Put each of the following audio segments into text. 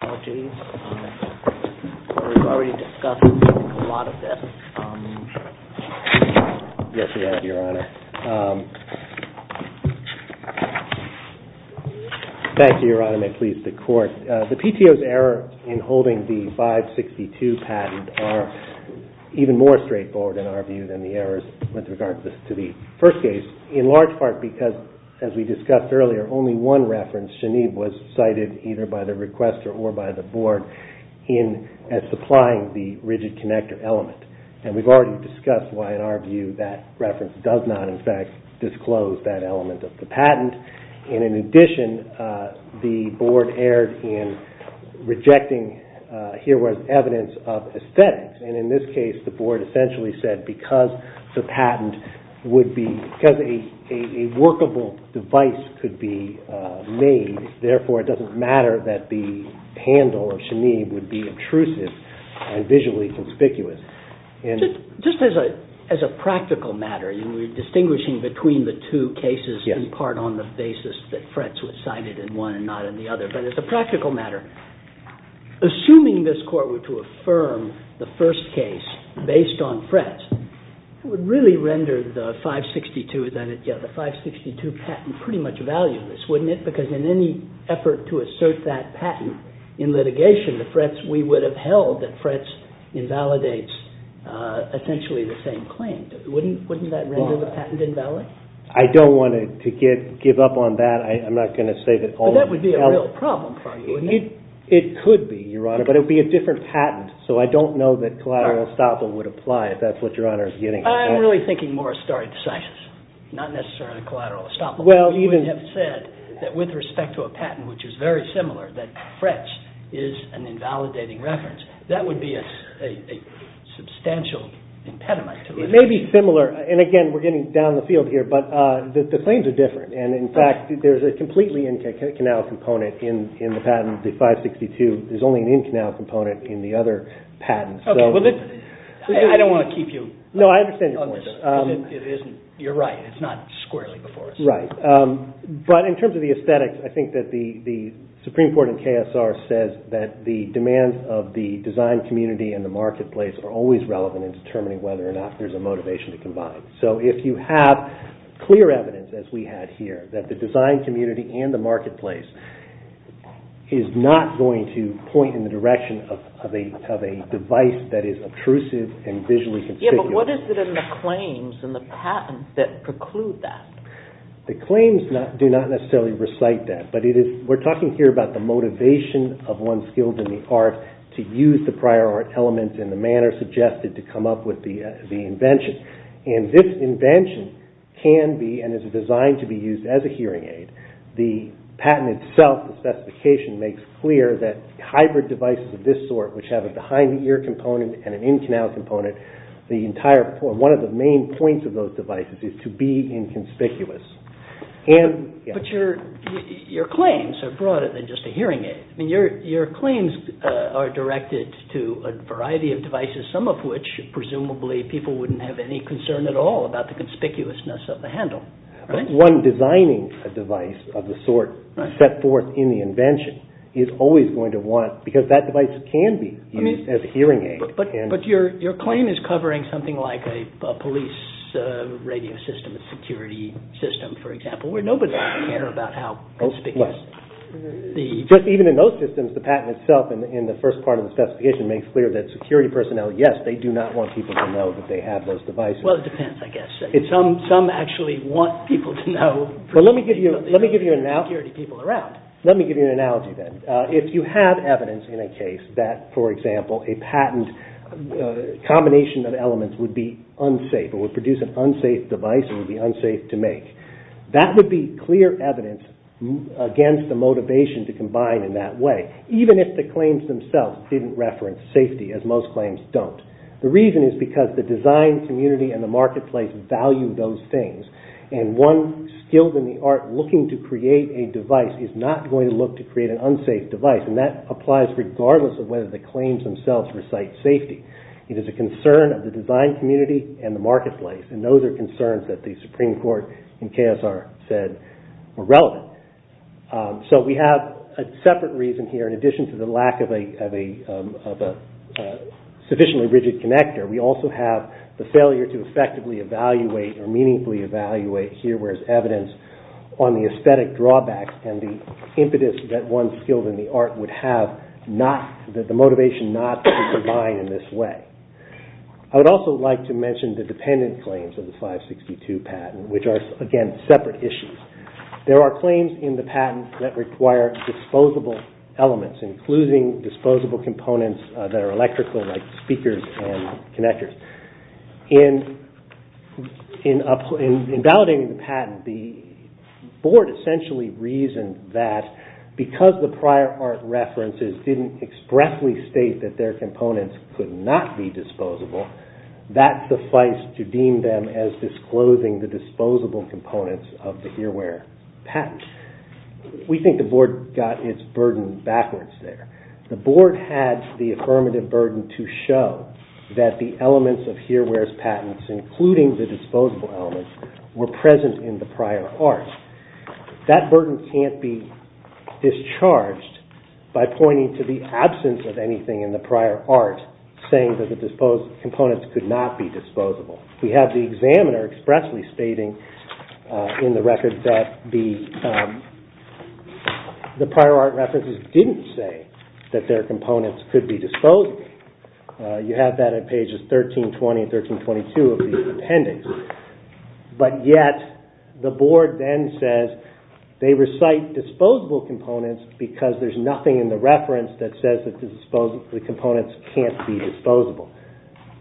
The PTO's error in holding the 562 patent are even more straightforward in our view than the errors with regard to the first case, in large part because, as we discussed earlier, only one reference, SHANEEV, was cited either by the requester or by the board in supplying the rigid connector element. And we've already discussed why, in our view, that reference does not, in fact, disclose that element of the patent. And in addition, the board erred in rejecting HERE-Wear's evidence of aesthetics. And in this case, the board essentially said because the patent would be, because a workable device could be made, therefore it doesn't matter that the handle of SHANEEV would be intrusive and visually conspicuous. Just as a practical matter, and we're distinguishing between the two cases in part on the basis that FRETS was cited in one and not in the other, but as a practical matter, assuming this Court were to affirm the first case based on FRETS, it would really render the 562 patent pretty much valueless, wouldn't it? Because in any effort to assert that patent in litigation, the FRETS we would have held that FRETS invalidates essentially the same claim. Wouldn't that render the patent invalid? I don't want to give up on that. I'm not going to say that all of the elements... But that would be a real problem for you, wouldn't it? It could be, Your Honor, but it would be a different patent. So I don't know that collateral estoppel would apply if that's what Your Honor is getting at. I'm really thinking more of stare decisis, not necessarily collateral estoppel. Well, even... We would have said that with respect to a patent which is very similar, that FRETS is an invalidating reference. That would be a substantial impediment to litigation. It may be similar. And again, we're getting down the field here, but the claims are different. And in fact, there's a completely in-canal component in the patent, the 562. There's only an in-canal component in the other patents. Okay. Well, I don't want to keep you... No, I understand your point. It isn't... You're right. It's not squarely before us. Right. But in terms of the aesthetics, I think that the Supreme Court and KSR says that the demands of the design community and the marketplace are always relevant in determining whether or not there's a motivation to combine. So if you have clear evidence, as we had here, that the design community and the marketplace is not going to point in the direction of a device that is obtrusive and visually conspicuous... Yeah, but what is it in the claims and the patents that preclude that? The claims do not necessarily recite that, but we're talking here about the motivation of one's skills in the art to use the prior art elements in the manner suggested to come up with the invention. And this invention can be and is designed to be used as a hearing aid. The patent itself, the specification, makes clear that hybrid devices of this sort, which have a behind-the-ear component and an in-canal component, one of the main points of those devices is to be inconspicuous. But your claims are broader than just a hearing aid. Your claims are directed to a variety of devices, some of which, presumably, people wouldn't have any concern at all about the conspicuousness of the handle. But one designing a device of the sort set forth in the invention is always going to want, because that device can be used as a hearing aid... But your claim is covering something like a police radio system, a security system, for example, where nobody would care about how conspicuous the... Just even in those systems, the patent itself in the first part of the specification makes clear that security personnel, yes, they do not want people to know that they have those devices. Well, it depends, I guess. Some actually want people to know... Let me give you an analogy then. If you have evidence in a case that, for example, a patent combination of elements would be unsafe, it would produce an unsafe device, it would be unsafe to make, that would be clear evidence against the motivation to combine in that way, even if the claims themselves didn't reference safety, as most claims don't. The reason is because the design community and the marketplace value those things, and one skilled in the art looking to create a device is not going to look to create an unsafe device, and that applies regardless of whether the claims themselves recite safety. It is a concern of the design community and the marketplace, and those are concerns that the Supreme Court in KSR said were relevant. So we have a separate reason here, in addition to the lack of a sufficiently rigid connector, we also have the failure to effectively evaluate or meaningfully evaluate here where there's evidence on the aesthetic drawbacks and the impetus that one skilled in the art would have, the motivation not to combine in this way. I would also like to mention the dependent claims of the 562 patent, which are, again, separate issues. There are claims in the patent that require disposable elements, including disposable components that are electrical, like speakers and connectors. In validating the patent, the board essentially reasoned that because the prior art references didn't expressly state that their components could not be disposable, that sufficed to dispose the components of the here where patent. We think the board got its burden backwards there. The board had the affirmative burden to show that the elements of here where's patents, including the disposable elements, were present in the prior art. That burden can't be discharged by pointing to the absence of anything in the prior art saying that the disposed components could not be disposable. We have the examiner expressly stating in the record that the prior art references didn't say that their components could be disposable. You have that on pages 1320 and 1322 of the appendix. But yet, the board then says they recite disposable components because there's nothing in the reference that says that the components can't be disposable.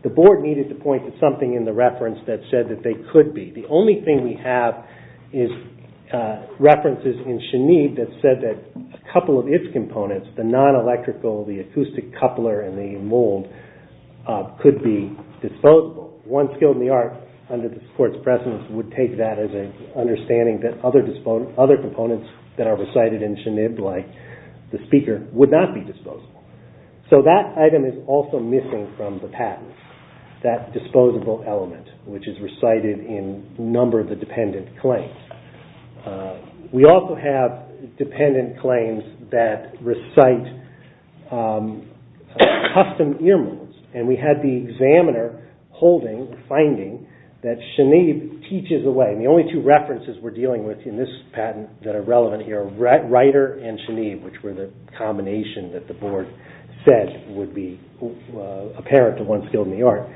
The board needed to point to something in the reference that said that they could be. The only thing we have is references in Chenib that said that a couple of its components, the non-electrical, the acoustic coupler, and the mold, could be disposable. One skill in the art, under the court's presence, would take that as an understanding that other components that are recited in Chenib, like the speaker, would not be disposable. So that item is also missing from the patent, that disposable element, which is recited in a number of the dependent claims. We also have dependent claims that recite custom ear molds. And we had the examiner holding, finding, that Chenib teaches away. And the only two references we're dealing with in this patent that are relevant here are Reiter and Chenib, which were the combination that the board said would be apparent to one skill in the art.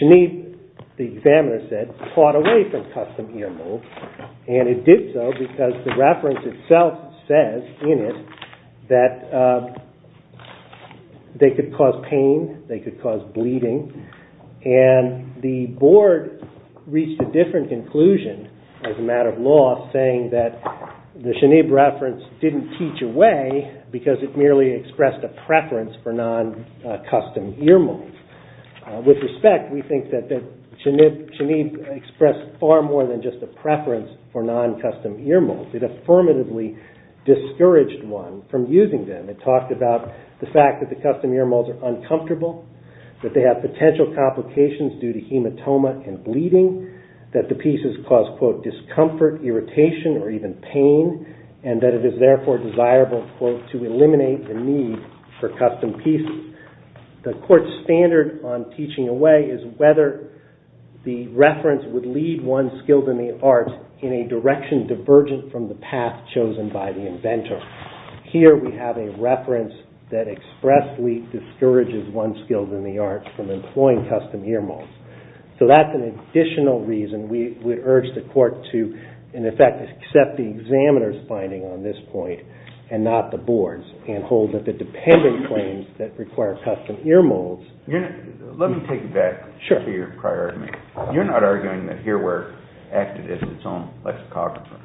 Chenib, the examiner said, caught away from custom ear molds. And it did so because the reference itself says in it that they could cause pain, they could cause bleeding. And the board reached a different conclusion as a matter of law, saying that the Chenib reference didn't teach away because it merely expressed a preference for non-custom ear molds. With respect, we think that Chenib expressed far more than just a preference for non-custom ear molds. It affirmatively discouraged one from using them. It talked about the fact that the custom ear molds are uncomfortable, that they have potential complications due to hematoma and bleeding, that the pieces cause, quote, discomfort, irritation, or even pain, and that it is therefore desirable, quote, to eliminate the need for custom pieces. The court's standard on teaching away is whether the reference would lead one skilled in the arts in a direction divergent from the path chosen by the inventor. Here we have a reference that expressly discourages one skilled in the arts from employing custom ear molds. So that's an additional reason we urge the court to, in effect, accept the examiner's finding on this point and not the board's, and hold that the dependent claims that require custom ear molds... Let me take that to your prior argument. You're not arguing that Earware acted as its own lexicographer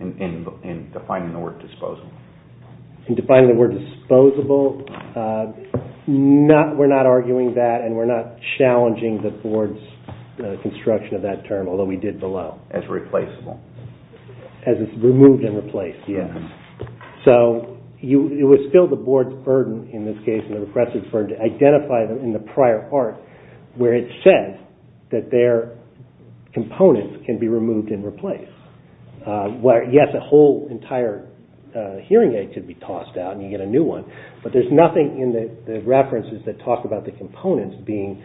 in defining the word disposable? In defining the word disposable, we're not arguing that and we're not challenging the board's construction of that term, although we did below. As replaceable. As it's removed and replaced, yes. So it was still the board's burden, in this case, and the repressor's burden to identify them in the prior part where it said that their components can be removed and replaced. Yes, a whole entire hearing aid could be tossed out and you get a new one, but there's nothing in the references that talk about the components being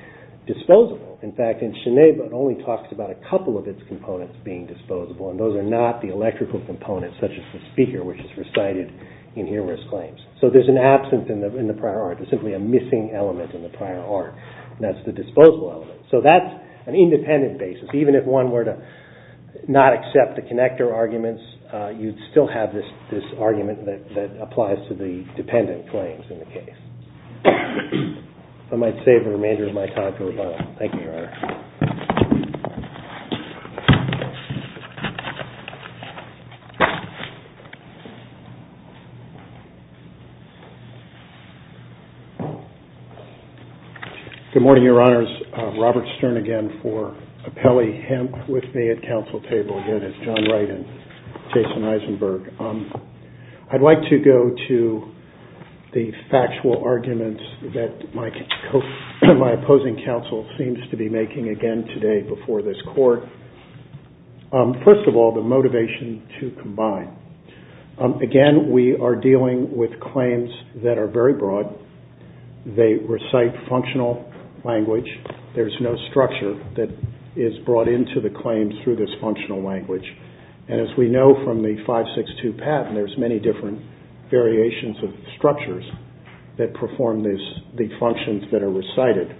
disposable. In fact, in Shinneba it only talks about a couple of its components being disposable, and those are not the electrical components such as the speaker, which is recited in Earware's claims. So there's an absence in the prior art. There's simply a missing element in the prior art, and that's the disposable element. So that's an independent basis. Even if one were to not accept the connector arguments, you'd still have this argument that applies to the dependent claims in the case. I might save the remainder of my time for Rebecca. Thank you, Your Honor. Good morning, Your Honors. Robert Stern again for appellee hemp with me at counsel table. Again, it's John Wright and Jason Eisenberg. I'd like to go to the factual arguments that my opposing counsel seems to be making again today before this court. First of all, the motivation to combine. Again, we are dealing with claims that are very broad. They recite functional language. There's no structure that is brought into the claims through this functional language. And as we know from the 562 patent, there's many different variations of structures that perform the functions that are recited.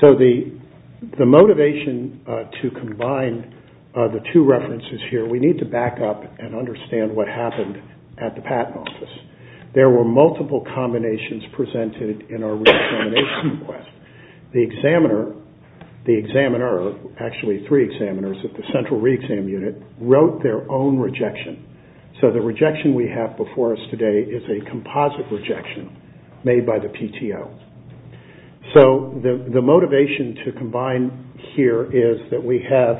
So the motivation to combine the two references here, we need to back up and understand what happened at the patent office. There were multiple combinations presented in our reexamination request. The examiner, actually three examiners, at the central reexam unit wrote their own rejection. So the rejection we have before us today is a composite rejection made by the PTO. So the motivation to combine here is that we have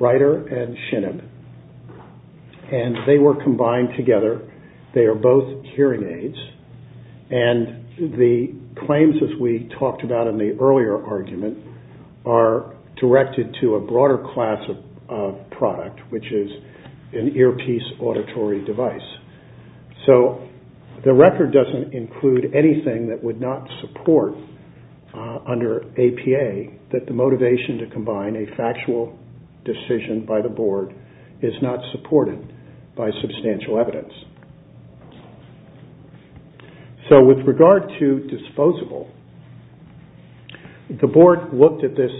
Ryder and Shinab. And they were combined together. They are both hearing aids. And the claims as we talked about in the earlier argument are directed to a broader class of product, which is an earpiece auditory device. So the record doesn't include anything that would not support under APA that the motivation to combine a factual decision by the board is not supported by substantial evidence. So with regard to disposable, the board looked at this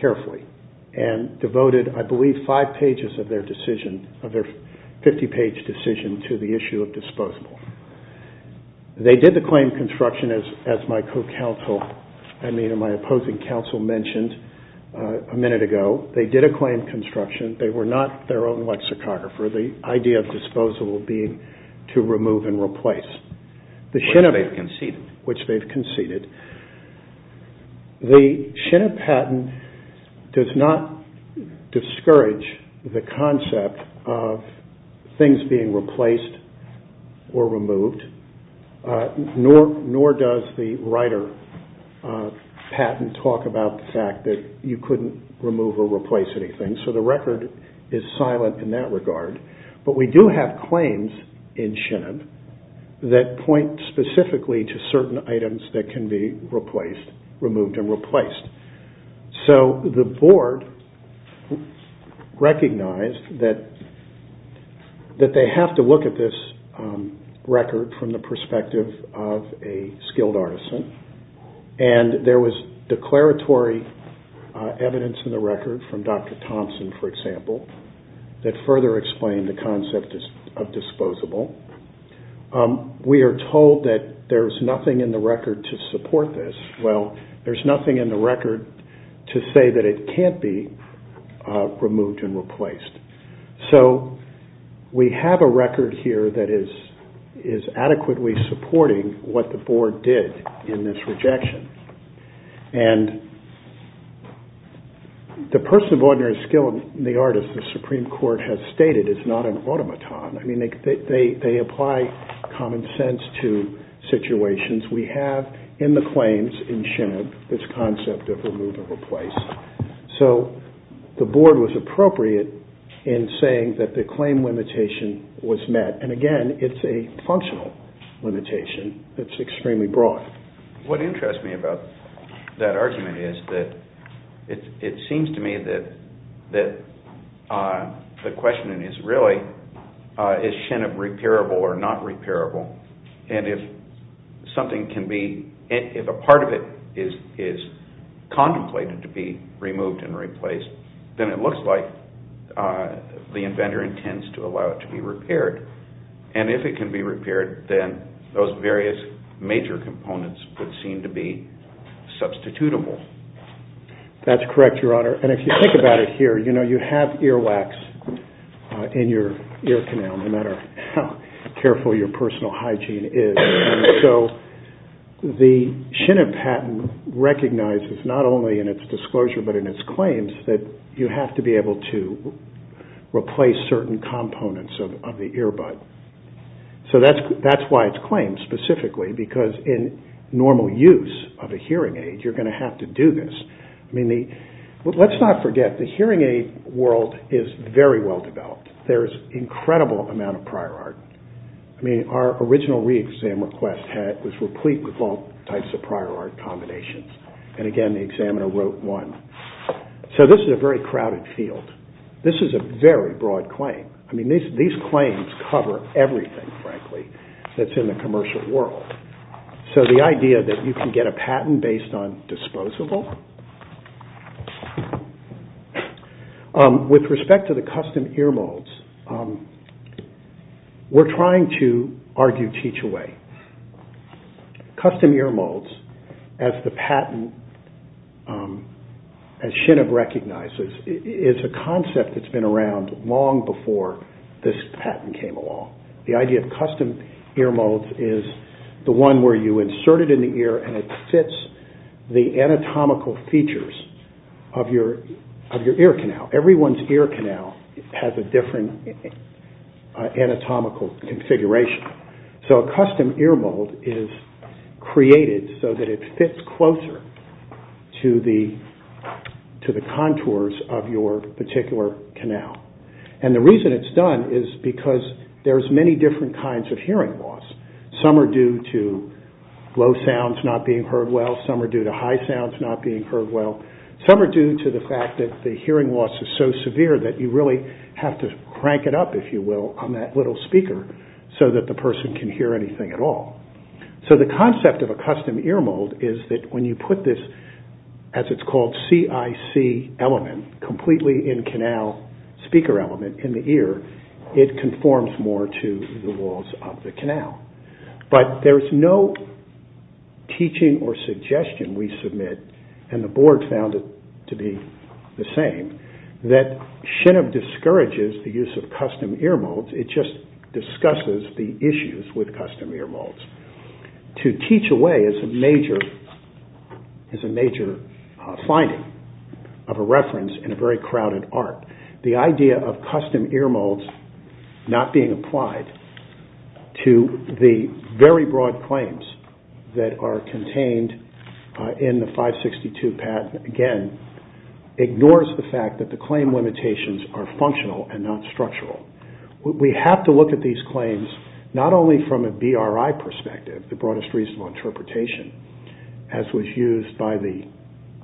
carefully and devoted I believe five pages of their decision, of their 50-page decision to the issue of disposable. They did the claim construction as my co-counsel, I mean my opposing counsel mentioned a minute ago. They did a claim construction. They were not their own lexicographer. The idea of disposable being to remove and replace. Which they've conceded. Which they've conceded. The Shinab patent does not discourage the concept of things being replaced or removed. Nor does the Ryder patent talk about the fact that you couldn't remove or replace anything. So the record is silent in that regard. But we do have claims in Shinab that point specifically to certain items that can be replaced, removed and replaced. So the board recognized that they have to look at this record from the perspective of a skilled artisan. And there was declaratory evidence in the record from Dr. Thompson for example that further explained the concept of disposable. We are told that there is nothing in the record to support this. Well there is nothing in the record to say that it can't be removed and replaced. So we have a record here that is adequately supporting what the board did in this rejection. And the person of ordinary skill in the art as the Supreme Court has stated is not an automaton. They apply common sense to situations. We have in the claims in Shinab this concept of remove or replace. So the board was appropriate in saying that the claim limitation was met. And again, it's a functional limitation that's extremely broad. What interests me about that argument is that it seems to me that the question is really is Shinab repairable or not repairable? And if something can be, if a part of it is contemplated to be removed and replaced then it looks like the inventor intends to allow it to be repaired. And if it can be repaired then those various major components would seem to be substitutable. That's correct, Your Honor. And if you think about it here, you have earwax in your ear canal no matter how careful your personal hygiene is. So the Shinab patent recognizes not only in its disclosure but in its claims that you have to be able to replace certain components of the earbud. So that's why it's claimed specifically because in normal use of a hearing aid you're going to have to do this. Let's not forget the hearing aid world is very well developed. There's incredible amount of prior art. Our original re-exam request was replete with all types of prior art combinations. And again, the examiner wrote one. So this is a very crowded field. This is a very broad claim. These claims cover everything, frankly, that's in the commercial world. So the idea that you can get a patent based on disposable? With respect to the custom ear molds, we're trying to argue teach-away. Custom ear molds, as the patent, as Shinab recognizes, is a concept that's been around long before this patent came along. The idea of custom ear molds is the one where you insert it in the ear and it fits the anatomical features of your ear canal. Everyone's ear canal has a different anatomical configuration. So a custom ear mold is created so that it fits closer to the contours of your particular canal. And the reason it's done is because there's many different kinds of hearing loss. Some are due to low sounds not being heard well. Some are due to high sounds not being heard well. Some are due to the fact that the hearing loss is so severe that you really have to crank it up, if you will, on that little speaker so that the person can hear anything at all. So the concept of a custom ear mold is that when you put this, as it's called, CIC element, completely in-canal speaker element in the ear, it conforms more to the walls of the canal. But there's no teaching or suggestion we submit, and the board found it to be the same, that Shinob discourages the use of custom ear molds. It just discusses the issues with custom ear molds. To teach away is a major finding of a reference in a very crowded art. The idea of custom ear molds not being applied to the very broad claims that are contained in the 562 patent, again, ignores the fact that the claim limitations are functional and not structural. We have to look at these claims not only from a BRI perspective, the Broadest Reasonable Interpretation, as was used by the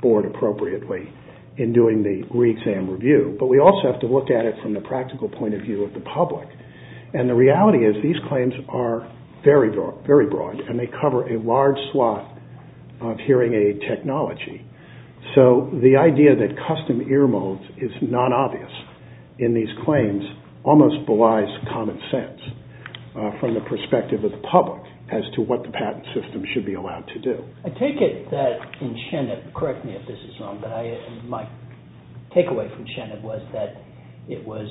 board appropriately in doing the re-exam review, but we also have to look at it from the practical point of view of the public. The reality is these claims are very broad, and they cover a large slot of hearing aid technology. The idea that custom ear molds is non-obvious in these claims almost belies common sense from the perspective of the public as to what the patent system should be allowed to do. Correct me if this is wrong, but my takeaway from Cheneb was that it was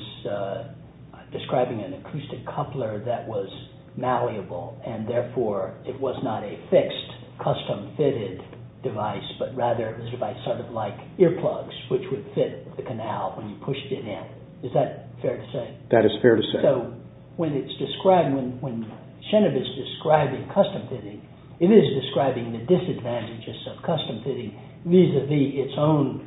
describing an acoustic coupler that was malleable and therefore it was not a fixed, custom-fitted device, but rather it was a device sort of like earplugs, which would fit the canal when you pushed it in. Is that fair to say? That is fair to say. So, when it's described, when Cheneb is describing custom-fitting, it is describing the disadvantages of custom-fitting vis-a-vis its own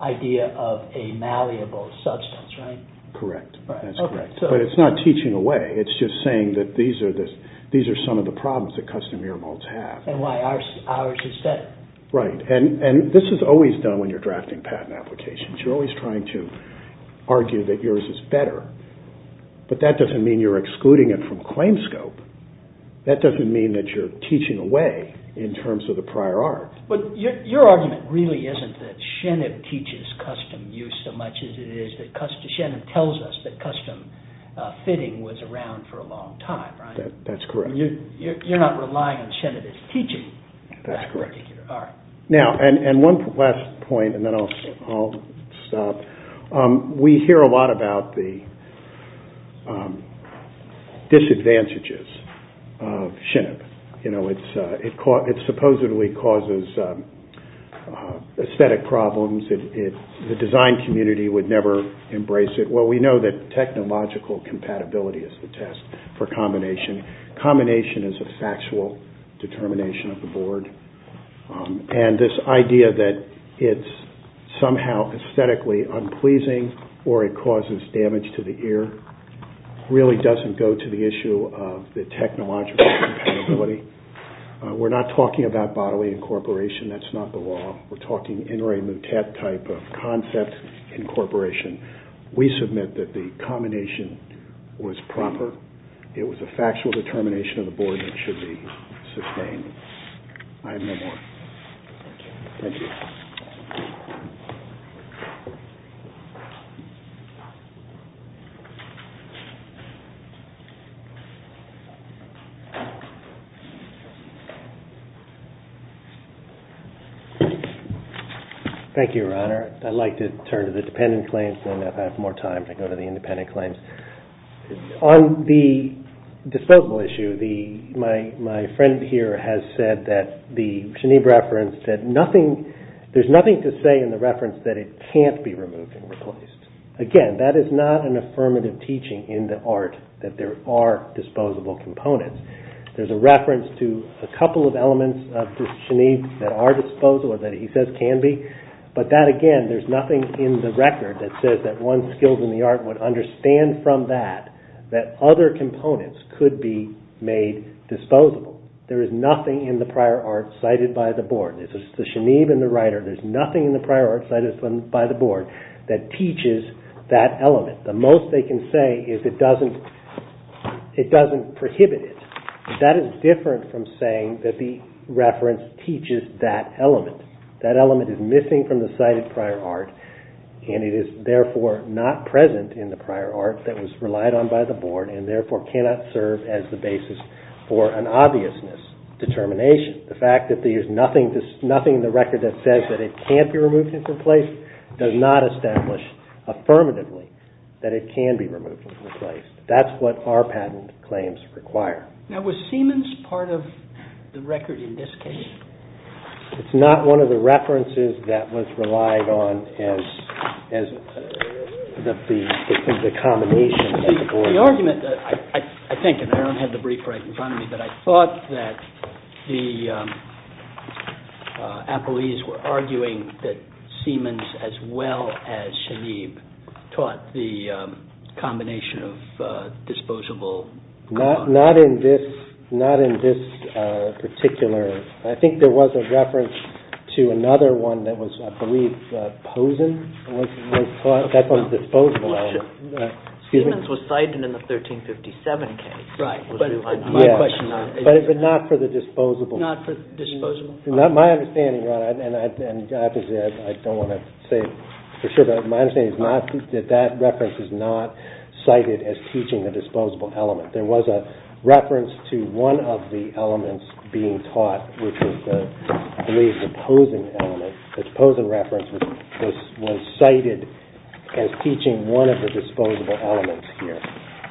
idea of a malleable substance, right? Correct. But it's not teaching away, it's just saying that these are some of the problems that custom ear molds have. And why ours is better. Right, and this is always done when you're drafting patent applications. You're always trying to argue that but that doesn't mean you're excluding it from claims scope. That doesn't mean that you're teaching away in terms of the prior art. But your argument really isn't that Cheneb teaches custom use so much as it is that Cheneb tells us that custom-fitting was around for a long time, right? That's correct. You're not relying on Cheneb as teaching that particular art. Now, and one last point and then I'll stop. We hear a lot about the disadvantages of Cheneb. It supposedly causes aesthetic problems. The design community would never embrace it. Well, we know that technological compatibility is the test for combination. Combination is a factual determination of the board. And this idea that it's somehow aesthetically unpleasing or it causes damage to the ear really doesn't go to the issue of the technological compatibility. We're not talking about bodily incorporation. That's not the law. We're talking in re mutat type of concept incorporation. We submit that the combination was proper. It was a factual determination of the board that should be sustained. I have no more. Thank you. Thank you, Your Honor. I'd like to turn to the dependent claims and if I have more time to go to the independent claims. On the disposable issue, my friend here has said that there's nothing to say in the reference that it can't be removed and replaced. Again, that is not an affirmative teaching in the art that there are disposable components. There's a reference to a couple of elements that are disposable or that he says can be. But that again, there's nothing in the record that says that one skilled in the art would understand from that that other components could be made disposable. There is nothing in the prior art cited by the board. There's nothing in the prior art cited by the board that teaches that element. The most they can say is it doesn't prohibit it. That is different from saying that the reference teaches that element. That element is missing from the cited prior art and it is therefore not present in the prior art that was relied on by the board and therefore cannot serve as the basis for an obviousness determination. The fact that there's nothing in the record that says that it can't be removed and replaced does not establish affirmatively that it can be removed and replaced. That's what our patent claims require. Now was Siemens part of the record in this case? It's not one of the references that was relied on as the combination. The argument, I think and I don't have the brief right in front of me, but I thought that the appellees were arguing that Siemens as well as Shanib taught the combination of disposable Not in this particular I think there was a reference to another one that was I believe Posen that's on the disposable element Siemens was cited in the 1357 case but not for the disposable My understanding and I don't want to say for sure, but my understanding is that that reference is not cited as teaching the disposable element. There was a reference to one of the elements being taught which is the Posen element The Posen reference was cited as teaching one of the disposable elements here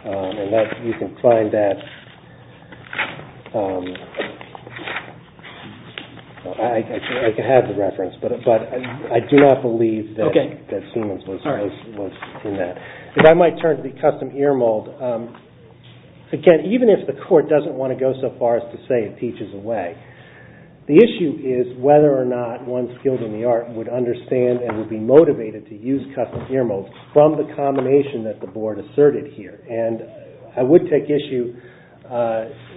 and you can find that I have the reference but I do not believe that Siemens was in that. If I might turn to the custom ear mold even if the court doesn't want to go so far as to say it teaches away the issue is whether or not one skilled in the art would understand and would be motivated to use custom ear mold from the combination that the board asserted here and I would take issue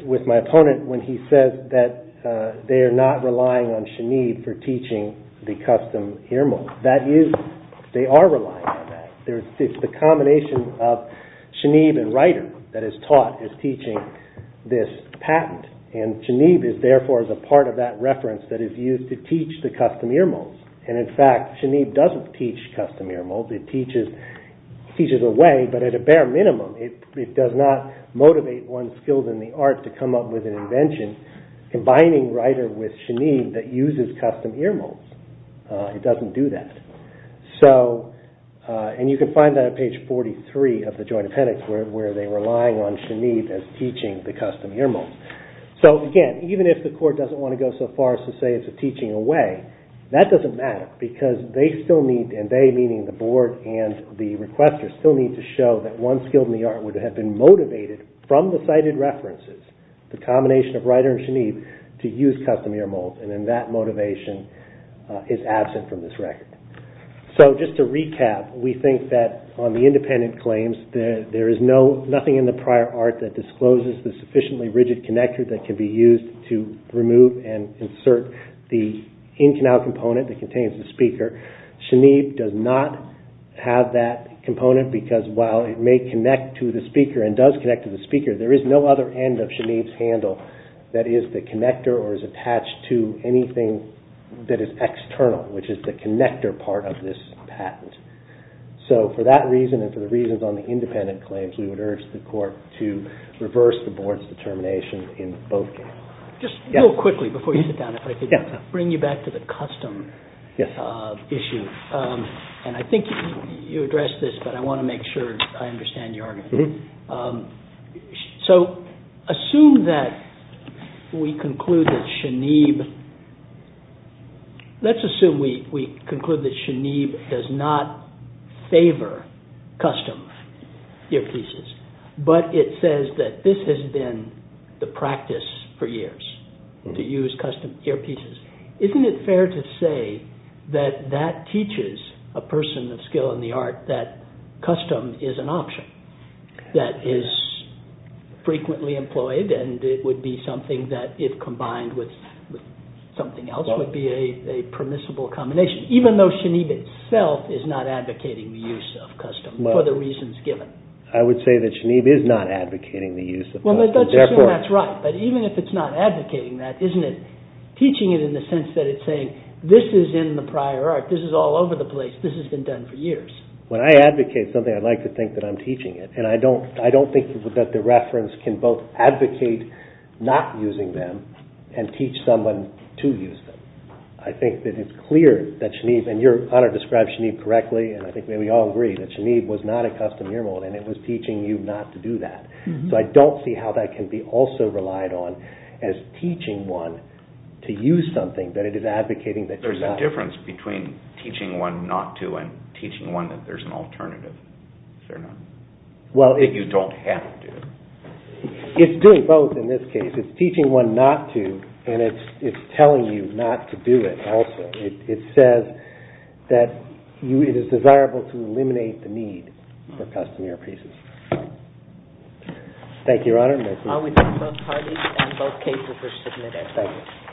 with my opponent when he says that they are not relying on Shanib for teaching the custom ear mold. That is they are relying on that. It's the combination of Shanib and Ryder that is taught as teaching this patent and Shanib is therefore a part of that reference that is used to teach the custom ear mold and in fact Shanib doesn't teach custom ear mold it teaches away but at a bare minimum it does not motivate one skilled in the art to come up with an invention combining Ryder with Shanib that uses custom ear mold it doesn't do that and you can find that on page 43 of the joint appendix where they are relying on Shanib as teaching the custom ear mold so again even if the court doesn't want to go so far as to say it's a teaching away that doesn't matter because they still need and they meaning the board and the requester still need to show that one skilled in the art would have been motivated from the cited references the combination of Ryder and Shanib to use custom ear mold and that motivation is absent from this record so just to recap we think that on the independent claims there is nothing in the prior art that discloses the sufficiently rigid connector that can be used to remove and insert the in canal component that contains the speaker Shanib does not have that component because while it may connect to the speaker and does connect to the speaker there is no other end of Shanib's handle that is the connector or is attached to anything that is external which is the connector part of this patent so for that reason and for the reasons on the independent claims we would urge the court to reverse the board's determination in both cases. Just real quickly before you sit down if I could bring you back to the custom issue and I think you addressed this but I want to make sure I understand your argument so assume that we conclude that Shanib let's assume we conclude that Shanib does not favor custom earpieces but it says that this has been the practice for years to use custom earpieces isn't it fair to say that that teaches a person of skill in the art that custom is an option that is frequently employed and it would be something that if combined with something else would be a permissible combination even though Shanib itself is not advocating the use of custom for the reasons given I would say that Shanib is not advocating the use of custom even if it's not advocating that isn't it teaching it in the sense that it's saying this is in the prior art this is all over the place this has been done for years when I advocate something I'd like to think that I'm teaching it and I don't think that the reference can both advocate not using them and teach someone to use them I think that it's clear that Shanib and your honor described Shanib correctly and I think we all agree that Shanib was not a custom ear mold and it was teaching you not to do that so I don't see how that can be also relied on as teaching one to use something that it is advocating there's a difference between teaching one not to and teaching one that there's an alternative if you don't have to it's doing both in this case it's teaching one not to and it's telling you not to do it also it says that it is desirable to eliminate the need for custom ear pieces thank you your honor I would move both parties and both cases are submitted